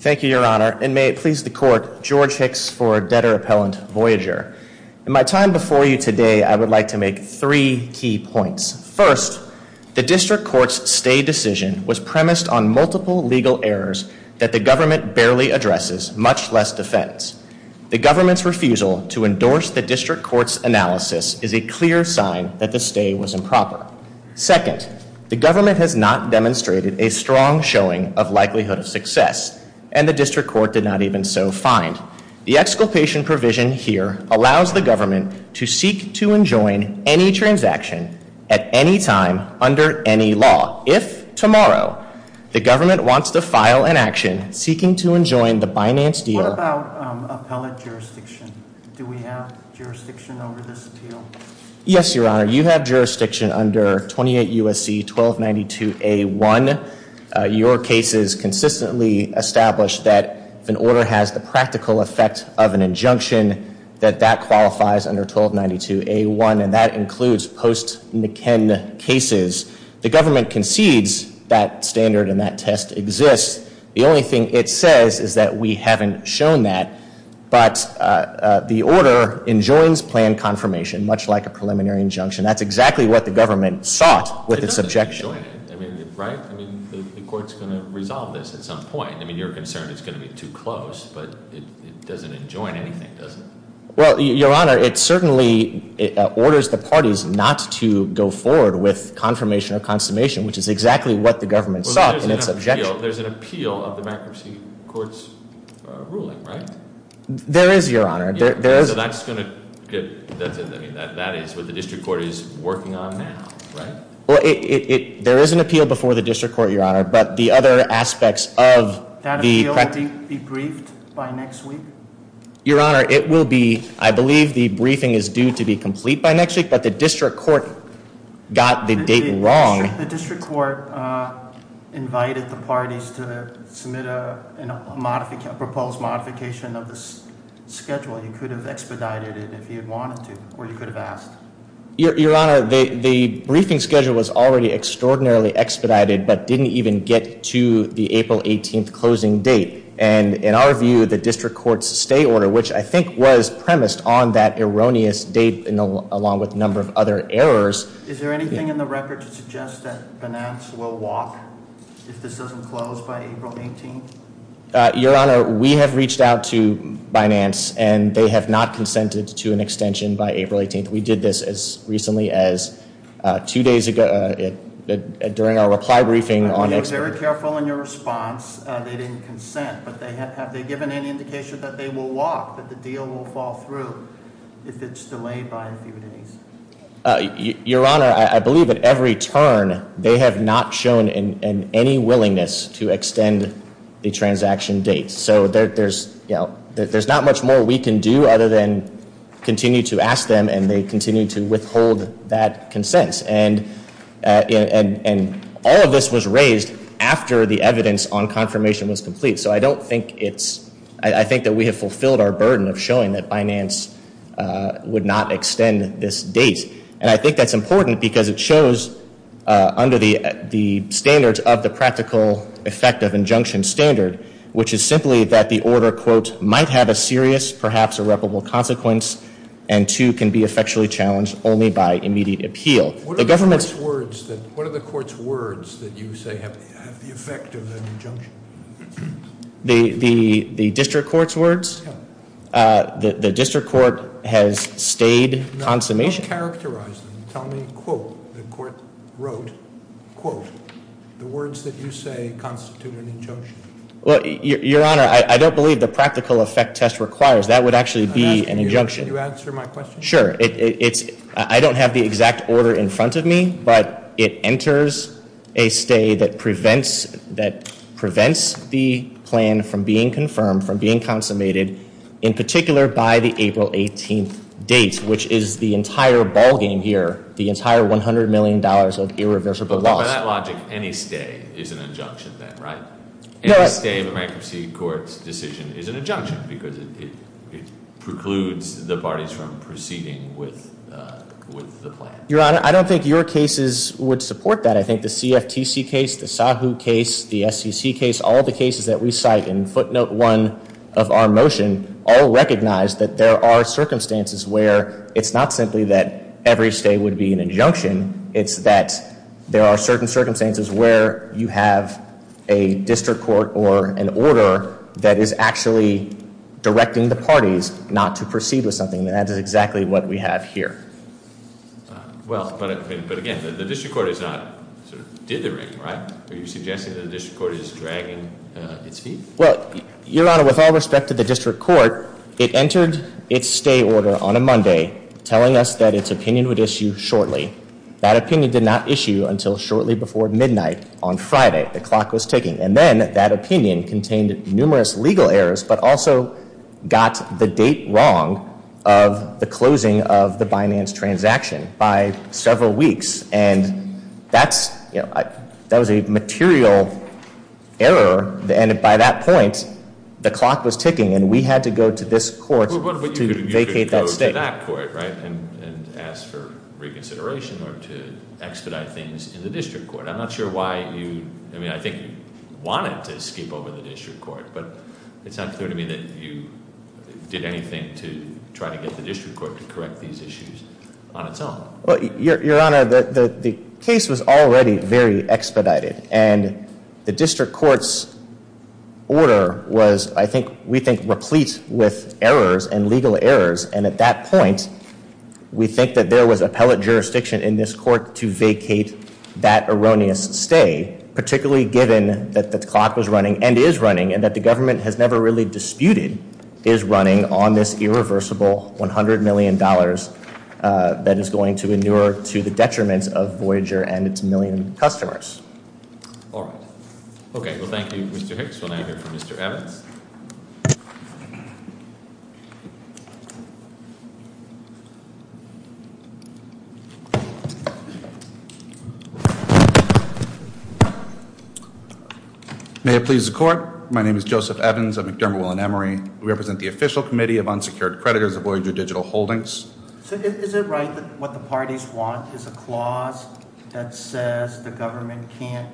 Thank you, Your Honor, and may it please the Court, George Hicks for Debtor Appellant Voyager. In my time before you today, I would like to make three key points. First, the District Court's stay decision was premised on multiple legal errors that the government barely addresses, much less defends. The government's refusal to endorse the District Court's analysis is a clear sign that the stay was improper. Second, the government has not demonstrated a strong showing of likelihood of success, and the District Court did not even so find. The exculpation provision here allows the government to seek to enjoin any transaction at any time under any law. If tomorrow the government wants to file an action seeking to enjoin the Binance deal- What about appellate jurisdiction? Do we have jurisdiction over this appeal? Yes, Your Honor, you have jurisdiction under 28 U.S.C. 1292A1. Your cases consistently establish that if an order has the practical effect of an injunction, that that qualifies under 1292A1, and that includes post-Nikken cases. The government concedes that standard and that test exists. The only thing it says is that we haven't shown that. But the order enjoins plan confirmation, much like a preliminary injunction. That's exactly what the government sought with its objection. I mean, right, I mean, the court's going to resolve this at some point. I mean, you're concerned it's going to be too close, but it doesn't enjoin anything, does it? Well, Your Honor, it certainly orders the parties not to go forward with confirmation or consummation, which is exactly what the government sought in its objection. There's an appeal of the bankruptcy court's ruling, right? There is, Your Honor, there is. So that's going to get, I mean, that is what the district court is working on now, right? Well, there is an appeal before the district court, Your Honor, but the other aspects of the- That appeal will be briefed by next week? Your Honor, it will be, I believe the briefing is due to be complete by next week, but the district court got the date wrong. The district court invited the parties to submit a proposed modification of the schedule. You could have expedited it if you had wanted to, or you could have asked. Your Honor, the briefing schedule was already extraordinarily expedited, but didn't even get to the April 18th closing date. And in our view, the district court's stay order, which I think was premised on that erroneous date, along with a number of other errors. Is there anything in the record to suggest that Binance will walk if this doesn't close by April 18th? Your Honor, we have reached out to Binance, and they have not consented to an extension by April 18th. We did this as recently as two days ago, during our reply briefing on- You were very careful in your response, they didn't consent. But have they given any indication that they will walk, that the deal will fall through if it's delayed by a few days? Your Honor, I believe at every turn, they have not shown any willingness to extend the transaction date. So there's not much more we can do other than continue to ask them, and they continue to withhold that consent. And all of this was raised after the evidence on confirmation was complete. So I don't think it's, I think that we have fulfilled our burden of showing that Binance would not extend this date. And I think that's important because it shows under the standards of the practical effect of injunction standard, which is simply that the order, quote, might have a serious, perhaps irreparable consequence. And two, can be effectually challenged only by immediate appeal. The government's- What are the court's words that you say have the effect of the injunction? The district court's words? Yeah. The district court has stayed consummation. No, don't characterize them. Tell me, quote, the court wrote, quote. The words that you say constitute an injunction. Well, Your Honor, I don't believe the practical effect test requires. That would actually be an injunction. Can you answer my question? Sure, I don't have the exact order in front of me, but it enters a stay that prevents the plan from being confirmed, from being consummated, in particular by the April 18th date, which is the entire ballgame here, the entire $100 million of irreversible loss. By that logic, any stay is an injunction then, right? Any stay of a bankruptcy court's decision is an injunction because it precludes the parties from proceeding with the plan. Your Honor, I don't think your cases would support that. I think the CFTC case, the SAHU case, the SEC case, all the cases that we cite in footnote one of our motion all recognize that there are circumstances where it's not simply that every stay would be an injunction. It's that there are certain circumstances where you have a district court or an order that is actually directing the parties not to proceed with something. And that is exactly what we have here. Well, but again, the district court is not dithering, right? Are you suggesting that the district court is dragging its feet? Well, Your Honor, with all respect to the district court, it entered its stay order on a Monday, telling us that its opinion would issue shortly. That opinion did not issue until shortly before midnight on Friday. The clock was ticking. And then that opinion contained numerous legal errors, but also got the date wrong of the closing of the Binance transaction by several weeks. And that was a material error. And by that point, the clock was ticking, and we had to go to this court to vacate that stay. That court, right, and ask for reconsideration or to expedite things in the district court. I'm not sure why you, I mean, I think you wanted to skip over the district court, but it's not clear to me that you did anything to try to get the district court to correct these issues on its own. Well, Your Honor, the case was already very expedited, and the district court's order was, I think, we think, replete with errors and legal errors. And at that point, we think that there was appellate jurisdiction in this court to vacate that erroneous stay. Particularly given that the clock was running, and is running, and that the government has never really disputed, is running on this irreversible $100 million that is going to endure to the detriments of Voyager and its million customers. All right. Okay, well, thank you, Mr. Hicks. We'll now hear from Mr. Evans. May it please the court. My name is Joseph Evans of McDermott, Will and Emery. We represent the official committee of unsecured creditors of Voyager Digital Holdings. So is it right that what the parties want is a clause that says the government can't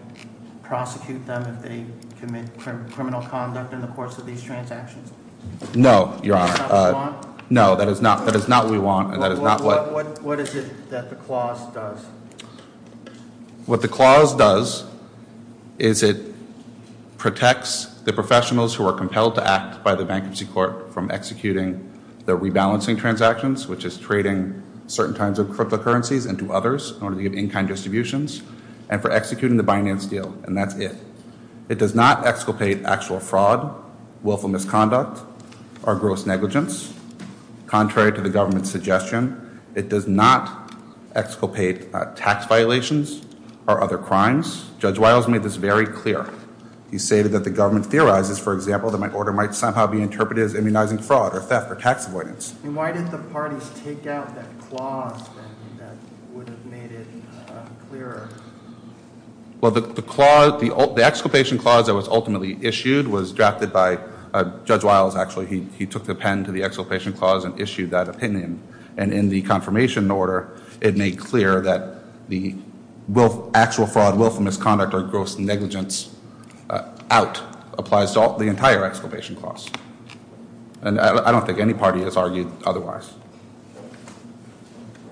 prosecute them if they commit criminal conduct in the course of these transactions? No, Your Honor. That's not the law? No, that is not what we want, and that is not what- What is it that the clause does? What the clause does is it protects the professionals who are compelled to act by the bankruptcy court from executing the rebalancing transactions, which is trading certain kinds of cryptocurrencies into others in order to give in-kind distributions. And for executing the Binance deal, and that's it. It does not exculpate actual fraud, willful misconduct, or gross negligence. Contrary to the government's suggestion, it does not exculpate tax violations or other crimes. Judge Wiles made this very clear. He stated that the government theorizes, for example, that my order might somehow be interpreted as immunizing fraud, or theft, or tax avoidance. And why did the parties take out that clause then that would have made it clearer? Well, the exculpation clause that was ultimately issued was drafted by Judge Wiles, actually. He took the pen to the exculpation clause and issued that opinion. And in the confirmation order, it made clear that the actual fraud, willful misconduct, or gross negligence out applies to the entire exculpation clause. And I don't think any party has argued otherwise.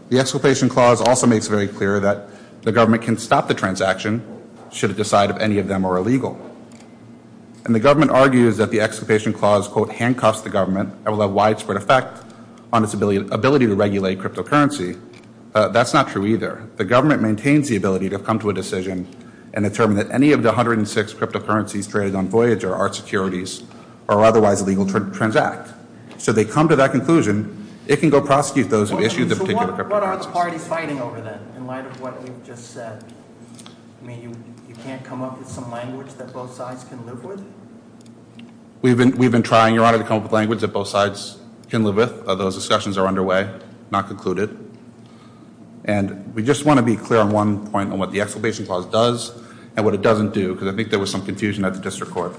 The exculpation clause also makes it very clear that the government can stop the transaction should it decide if any of them are illegal. And the government argues that the exculpation clause, quote, handcuffs the government and will have widespread effect on its ability to regulate cryptocurrency. That's not true either. The government maintains the ability to come to a decision and determine that any of the 106 cryptocurrencies traded on Voyager are securities or otherwise illegal to transact. So they come to that conclusion, it can go prosecute those who issued the particular cryptocurrencies. So what are the parties fighting over then, in light of what you've just said? I mean, you can't come up with some language that both sides can live with? We've been trying, Your Honor, to come up with language that both sides can live with, although those discussions are underway, not concluded. And we just want to be clear on one point on what the exculpation clause does and what it doesn't do, because I think there was some confusion at the district court.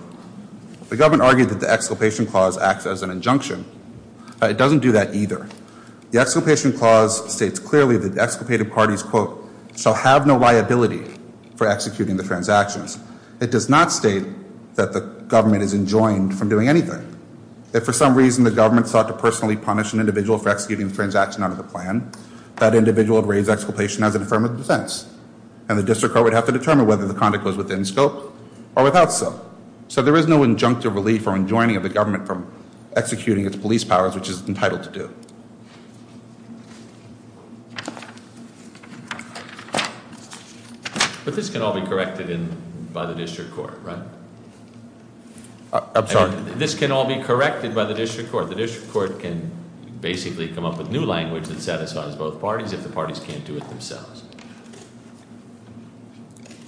The government argued that the exculpation clause acts as an injunction. It doesn't do that either. The exculpation clause states clearly that the exculpated parties, quote, shall have no liability for executing the transactions. It does not state that the government is enjoined from doing anything. If for some reason the government sought to personally punish an individual for executing the transaction out of the plan, that individual would raise exculpation as an affirmative defense. And the district court would have to determine whether the conduct was within scope or without scope. So there is no injunctive relief or enjoining of the government from executing its police powers, which it's entitled to do. But this can all be corrected by the district court, right? I'm sorry? This can all be corrected by the district court. The district court can basically come up with new language that satisfies both parties if the parties can't do it themselves.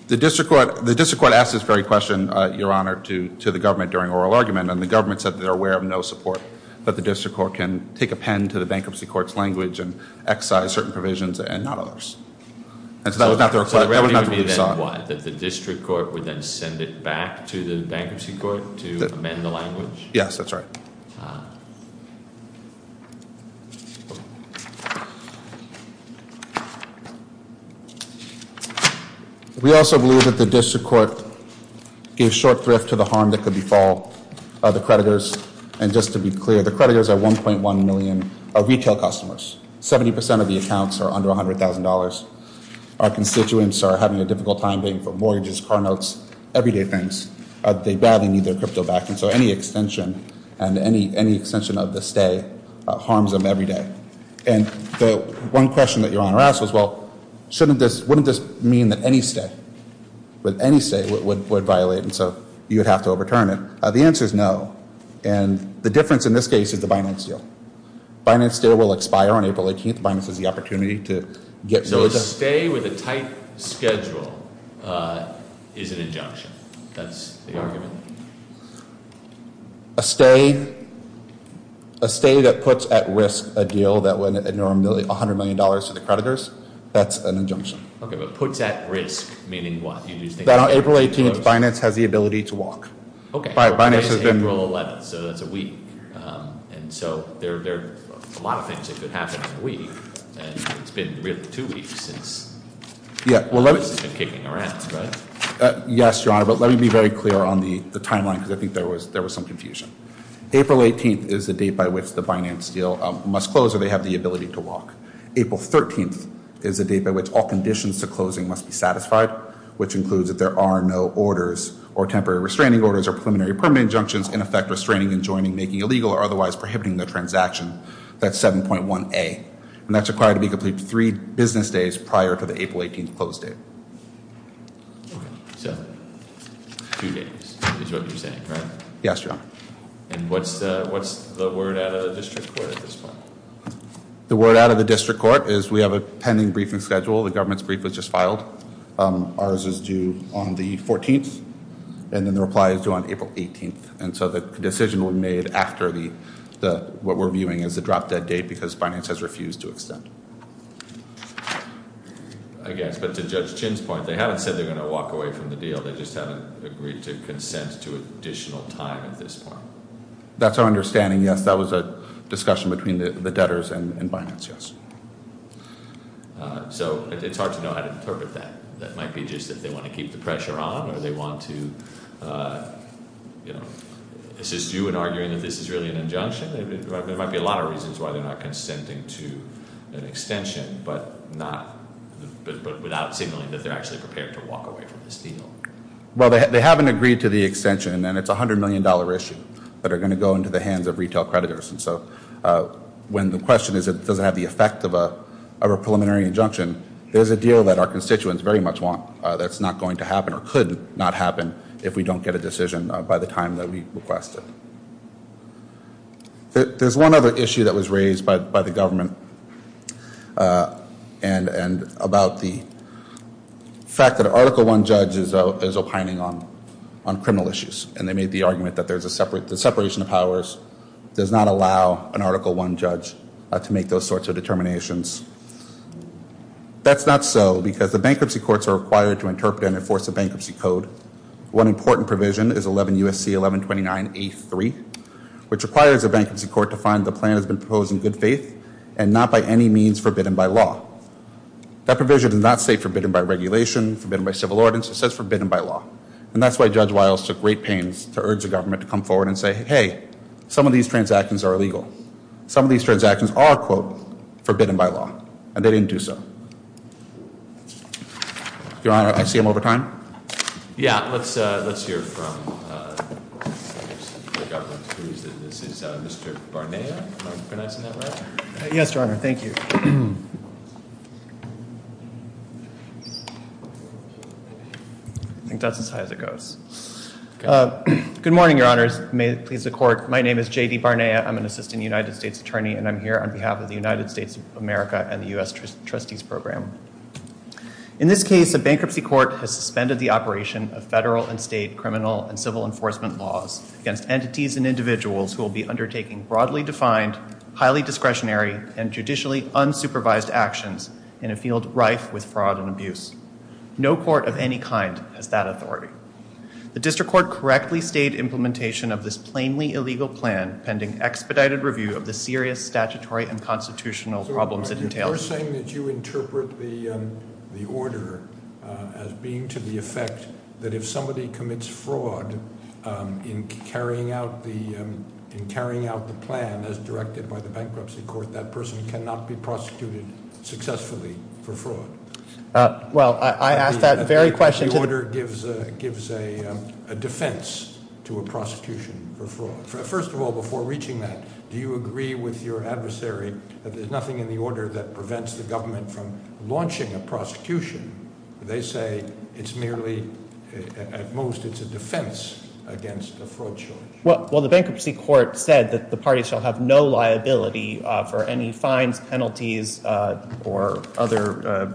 The district court asked this very question, Your Honor, to the government during oral argument. And the government said that they're aware of no support that the district court can take a pen to the bankruptcy court's language and excise certain provisions and not others. And so that was not the reply. That would not have been sought. What, that the district court would then send it back to the bankruptcy court to amend the language? Yes, that's right. Okay. We also believe that the district court gave short thrift to the harm that could befall the creditors. And just to be clear, the creditors are 1.1 million retail customers. 70% of the accounts are under $100,000. Our constituents are having a difficult time paying for mortgages, car notes, everyday things. They badly need their crypto back. And so any extension and any extension of the stay harms them every day. And the one question that Your Honor asked was, well, shouldn't this, wouldn't this mean that any stay, any stay would violate? And so you would have to overturn it. The answer is no. And the difference in this case is the finance deal. Finance deal will expire on April 18th. Finance is the opportunity to get rid of. A stay with a tight schedule is an injunction. That's the argument. A stay, a stay that puts at risk a deal that would ignore $100 million to the creditors, that's an injunction. Okay, but puts at risk, meaning what? That on April 18th, finance has the ability to walk. April 11th, so that's a week. And so there are a lot of things that could happen in a week. And it's been really two weeks since this has been kicking around, right? Yes, Your Honor, but let me be very clear on the timeline because I think there was some confusion. April 18th is the date by which the finance deal must close or they have the ability to walk. April 13th is the date by which all conditions to closing must be satisfied, which includes that there are no orders or temporary restraining orders or preliminary permanent injunctions in effect restraining and joining, making illegal or otherwise prohibiting the transaction. That's 7.1A. And that's required to be completed three business days prior to the April 18th close date. Okay, so two days is what you're saying, right? Yes, Your Honor. And what's the word out of the district court at this point? The word out of the district court is we have a pending briefing schedule. The government's brief was just filed. Ours is due on the 14th, and then the reply is due on April 18th. And so the decision was made after what we're viewing as the drop-dead date because finance has refused to extend. I guess. But to Judge Chin's point, they haven't said they're going to walk away from the deal. They just haven't agreed to consent to additional time at this point. That's our understanding, yes. That was a discussion between the debtors and finance, yes. So it's hard to know how to interpret that. That might be just that they want to keep the pressure on or they want to assist you in arguing that this is really an injunction. There might be a lot of reasons why they're not consenting to an extension, but not without signaling that they're actually prepared to walk away from this deal. Well, they haven't agreed to the extension, and it's a $100 million issue that are going to go into the hands of retail creditors. And so when the question is, does it have the effect of a preliminary injunction, there's a deal that our constituents very much want that's not going to happen or could not happen if we don't get a decision by the time that we request it. There's one other issue that was raised by the government and about the fact that an Article I judge is opining on criminal issues, and they made the argument that the separation of powers does not allow an Article I judge to make those sorts of determinations. That's not so because the bankruptcy courts are required to interpret and enforce a bankruptcy code. One important provision is 11 U.S.C. 1129A3, which requires a bankruptcy court to find the plan has been proposed in good faith and not by any means forbidden by law. That provision does not say forbidden by regulation, forbidden by civil ordinance. It says forbidden by law. And that's why Judge Wiles took great pains to urge the government to come forward and say, hey, some of these transactions are illegal. Some of these transactions are, quote, forbidden by law. And they didn't do so. Your Honor, I see him over time. Yeah, let's hear from the government. This is Mr. Barnea. Am I pronouncing that right? Yes, Your Honor. Thank you. I think that's as high as it goes. Good morning, Your Honors. May it please the Court. My name is J.D. Barnea. I'm an assistant United States attorney, and I'm here on behalf of the United States of America and the U.S. Trustees Program. In this case, a bankruptcy court has suspended the operation of federal and state criminal and civil enforcement laws against entities and individuals who will be undertaking broadly defined, highly discretionary, and judicially unsupervised actions in a field rife with fraud and abuse. No court of any kind has that authority. The district court correctly stated implementation of this plainly illegal plan pending expedited review of the serious statutory and constitutional problems it entails. You're saying that you interpret the order as being to the effect that if somebody commits fraud in carrying out the plan as directed by the bankruptcy court, that person cannot be prosecuted successfully for fraud. Well, I ask that very question- The order gives a defense to a prosecution for fraud. First of all, before reaching that, do you agree with your adversary that there's nothing in the order that prevents the government from launching a prosecution? They say it's merely, at most, it's a defense against a fraud charge. Well, the bankruptcy court said that the party shall have no liability for any fines, penalties, or other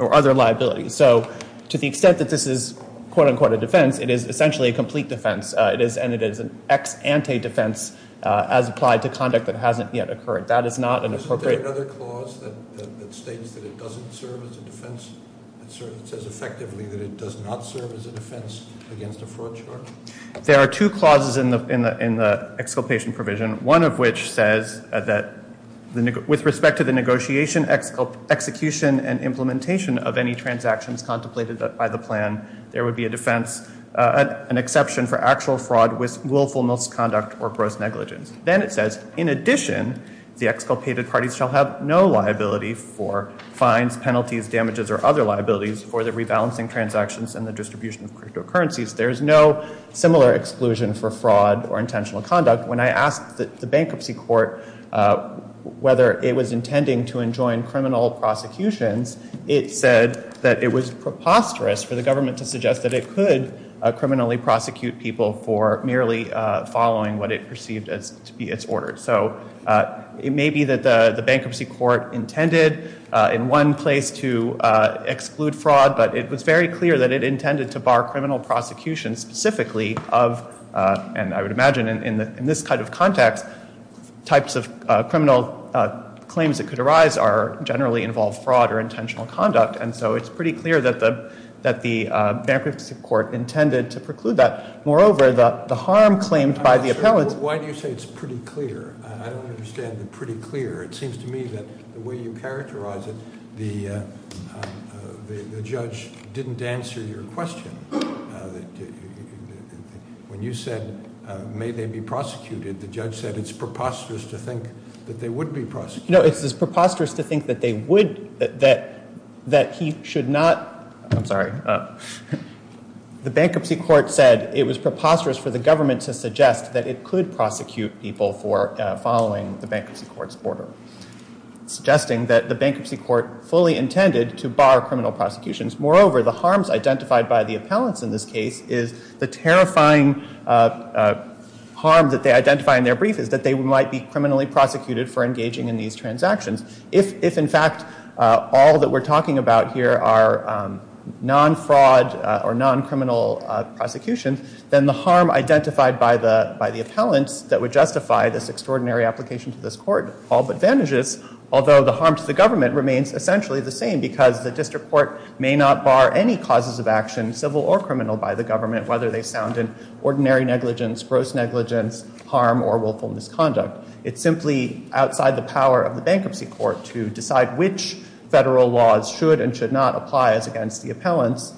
liabilities. So to the extent that this is, quote unquote, a defense, it is essentially a complete defense. And it is an ex ante defense as applied to conduct that hasn't yet occurred. That is not an appropriate- Isn't there another clause that states that it doesn't serve as a defense? It says effectively that it does not serve as a defense against a fraud charge? There are two clauses in the exculpation provision. One of which says that with respect to the negotiation, execution, and implementation of any transactions contemplated by the plan, there would be a defense, an exception for actual fraud with willful misconduct or gross negligence. Then it says, in addition, the exculpated parties shall have no liability for fines, penalties, damages, or other liabilities for the rebalancing transactions and the distribution of cryptocurrencies. There is no similar exclusion for fraud or intentional conduct. When I asked the bankruptcy court whether it was intending to enjoin criminal prosecutions, it said that it was preposterous for the government to suggest that it could criminally prosecute people for merely following what it perceived as to be its order. So it may be that the bankruptcy court intended in one place to exclude fraud, but it was very clear that it intended to bar criminal prosecution specifically of, and I would imagine in this kind of context, types of criminal claims that could arise generally involve fraud or intentional conduct. And so it's pretty clear that the bankruptcy court intended to preclude that. Moreover, the harm claimed by the appellants- Why do you say it's pretty clear? I don't understand the pretty clear. It seems to me that the way you characterize it, the judge didn't answer your question. When you said, may they be prosecuted, the judge said it's preposterous to think that they would be prosecuted. No, it's preposterous to think that they would, that he should not- I'm sorry. The bankruptcy court said it was preposterous for the government to suggest that it could prosecute people for following the bankruptcy court's order, suggesting that the bankruptcy court fully intended to bar criminal prosecutions. Moreover, the harms identified by the appellants in this case is the terrifying harm that they identify in their brief is that they might be criminally prosecuted for engaging in these transactions. If, in fact, all that we're talking about here are non-fraud or non-criminal prosecutions, then the harm identified by the appellants that would justify this extraordinary application to this court all but vanishes, although the harm to the government remains essentially the same because the district court may not bar any causes of action, civil or criminal, by the government, whether they sound in ordinary negligence, gross negligence, harm, or willful misconduct. It's simply outside the power of the bankruptcy court to decide which federal laws should and should not apply as against the appellants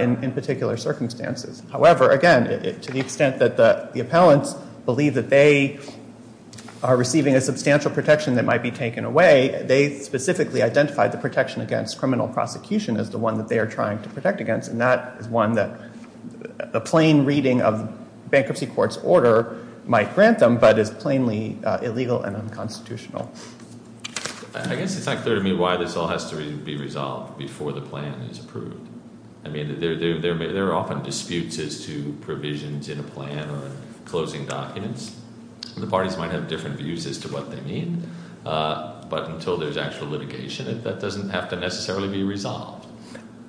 in particular circumstances. However, again, to the extent that the appellants believe that they are receiving a substantial protection that might be taken away, they specifically identified the protection against criminal prosecution as the one that they are trying to protect against, and that is one that a plain reading of bankruptcy court's order might grant them, but is plainly illegal and unconstitutional. I guess it's not clear to me why this all has to be resolved before the plan is approved. I mean, there are often disputes as to provisions in a plan or in closing documents. The parties might have different views as to what they mean, but until there's actual litigation, that doesn't have to necessarily be resolved.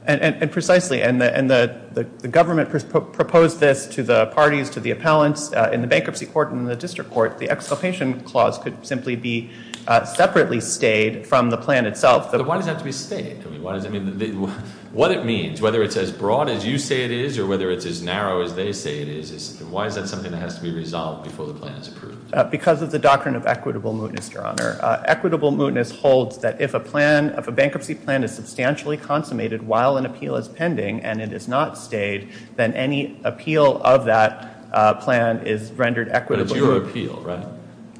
And precisely, and the government proposed this to the parties, to the appellants, in the bankruptcy court and in the district court, the exculpation clause could simply be separately stayed from the plan itself. But why does it have to be stayed? I mean, what it means, whether it's as broad as you say it is or whether it's as narrow as they say it is, why is that something that has to be resolved before the plan is approved? Because of the doctrine of equitable mootness, Your Honor. Equitable mootness holds that if a bankruptcy plan is substantially consummated while an appeal is pending and it is not stayed, then any appeal of that plan is rendered equitable. But it's your appeal, right?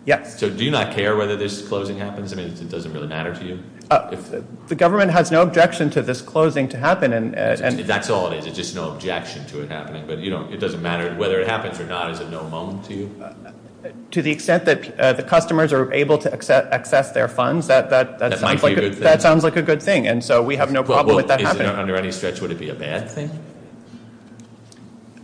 Yes. So do you not care whether this closing happens? I mean, it doesn't really matter to you? The government has no objection to this closing to happen. That's all it is. It's just no objection to it happening. But it doesn't matter whether it happens or not. Is it no moan to you? To the extent that the customers are able to access their funds, that sounds like a good thing. And so we have no problem with that happening. Well, under any stretch, would it be a bad thing?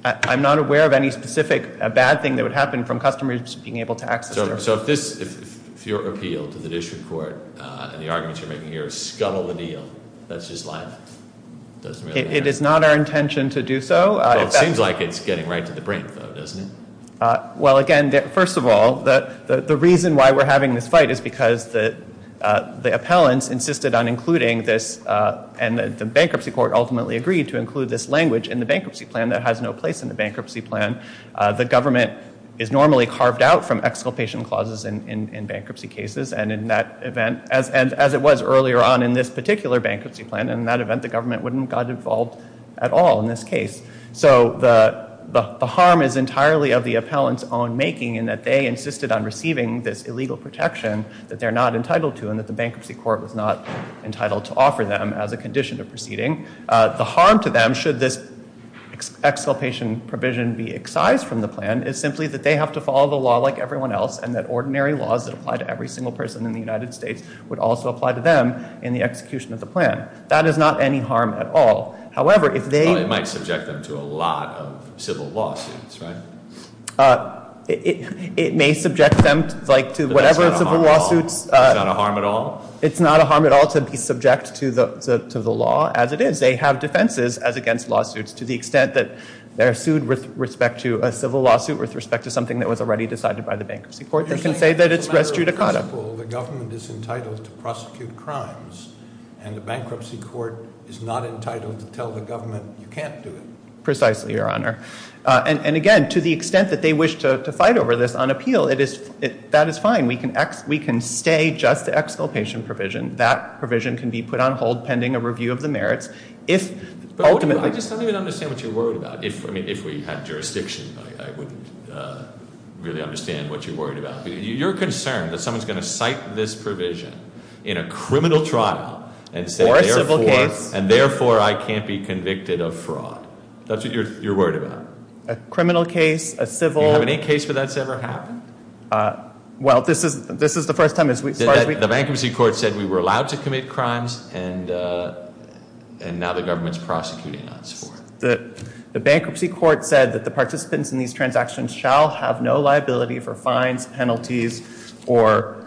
I'm not aware of any specific bad thing that would happen from customers being able to access their funds. So if your appeal to the district court and the arguments you're making here is scuttle the deal, that's just libel? It is not our intention to do so. Well, it seems like it's getting right to the brink, though, doesn't it? Well, again, first of all, the reason why we're having this fight is because the appellants insisted on including this and the bankruptcy court ultimately agreed to include this language in the bankruptcy plan that has no place in the bankruptcy plan. The government is normally carved out from exculpation clauses in bankruptcy cases. And in that event, as it was earlier on in this particular bankruptcy plan, in that event, the government wouldn't have gotten involved at all in this case. So the harm is entirely of the appellant's own making in that they insisted on receiving this illegal protection that they're not entitled to and that the bankruptcy court was not entitled to offer them as a condition of proceeding. The harm to them, should this exculpation provision be excised from the plan, is simply that they have to follow the law like everyone else and that ordinary laws that apply to every single person in the United States would also apply to them in the execution of the plan. That is not any harm at all. However, if they- It might subject them to a lot of civil lawsuits, right? It may subject them to whatever civil lawsuits- But that's not a harm at all. It's not a harm at all? It's not a harm at all to be subject to the law as it is. They have defenses as against lawsuits to the extent that they're sued with respect to a civil lawsuit, with respect to something that was already decided by the bankruptcy court. They can say that it's res judicata. For example, the government is entitled to prosecute crimes and the bankruptcy court is not entitled to tell the government you can't do it. Precisely, Your Honor. And again, to the extent that they wish to fight over this on appeal, that is fine. We can stay just the exculpation provision. That provision can be put on hold pending a review of the merits. I just don't even understand what you're worried about. If we had jurisdiction, I wouldn't really understand what you're worried about. You're concerned that someone's going to cite this provision in a criminal trial and say- Or a civil case. And therefore, I can't be convicted of fraud. That's what you're worried about. A criminal case, a civil- Do you have any case where that's ever happened? Well, this is the first time as far as we- The bankruptcy court said we were allowed to commit crimes and now the government's prosecuting us for it. The bankruptcy court said that the participants in these transactions shall have no liability for fines, penalties, or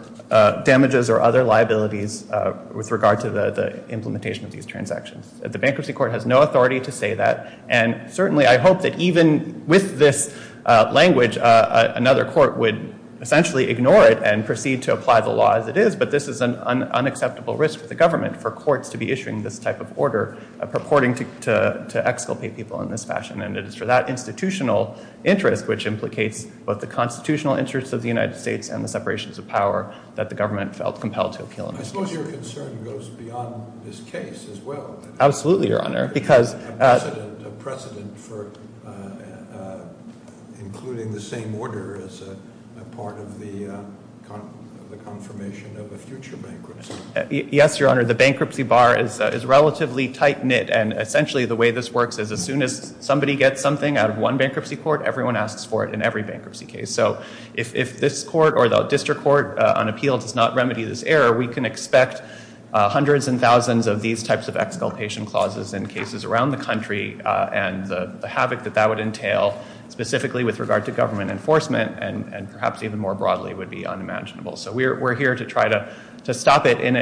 damages or other liabilities with regard to the implementation of these transactions. The bankruptcy court has no authority to say that. And certainly, I hope that even with this language, another court would essentially ignore it and proceed to apply the law as it is, but this is an unacceptable risk for the government for courts to be issuing this type of order purporting to exculpate people in this fashion. And it is for that institutional interest, which implicates both the constitutional interests of the United States and the separations of power, that the government felt compelled to appeal in this case. I suppose your concern goes beyond this case as well. Absolutely, Your Honor, because- A precedent for including the same order as a part of the confirmation of a future bankruptcy. Yes, Your Honor, the bankruptcy bar is relatively tight-knit, and essentially the way this works is as soon as somebody gets something out of one bankruptcy court, everyone asks for it in every bankruptcy case. So if this court or the district court on appeal does not remedy this error, we can expect hundreds and thousands of these types of exculpation clauses in cases around the country and the havoc that that would entail, specifically with regard to government enforcement, and perhaps even more broadly would be unimaginable. So we're here to try to stop it in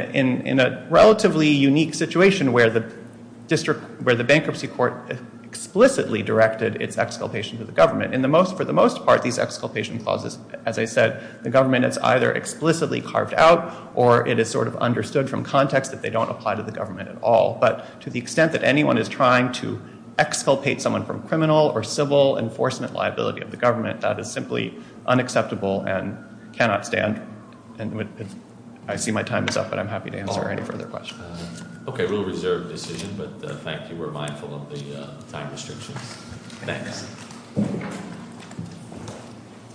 a relatively unique situation where the bankruptcy court explicitly directed its exculpation to the government. For the most part, these exculpation clauses, as I said, the government has either explicitly carved out or it is sort of understood from context that they don't apply to the government at all. But to the extent that anyone is trying to exculpate someone from criminal or civil enforcement liability of the government, that is simply unacceptable and cannot stand. I see my time is up, but I'm happy to answer any further questions. Okay, we'll reserve the decision, but thank you. We're mindful of the time restrictions. Thanks.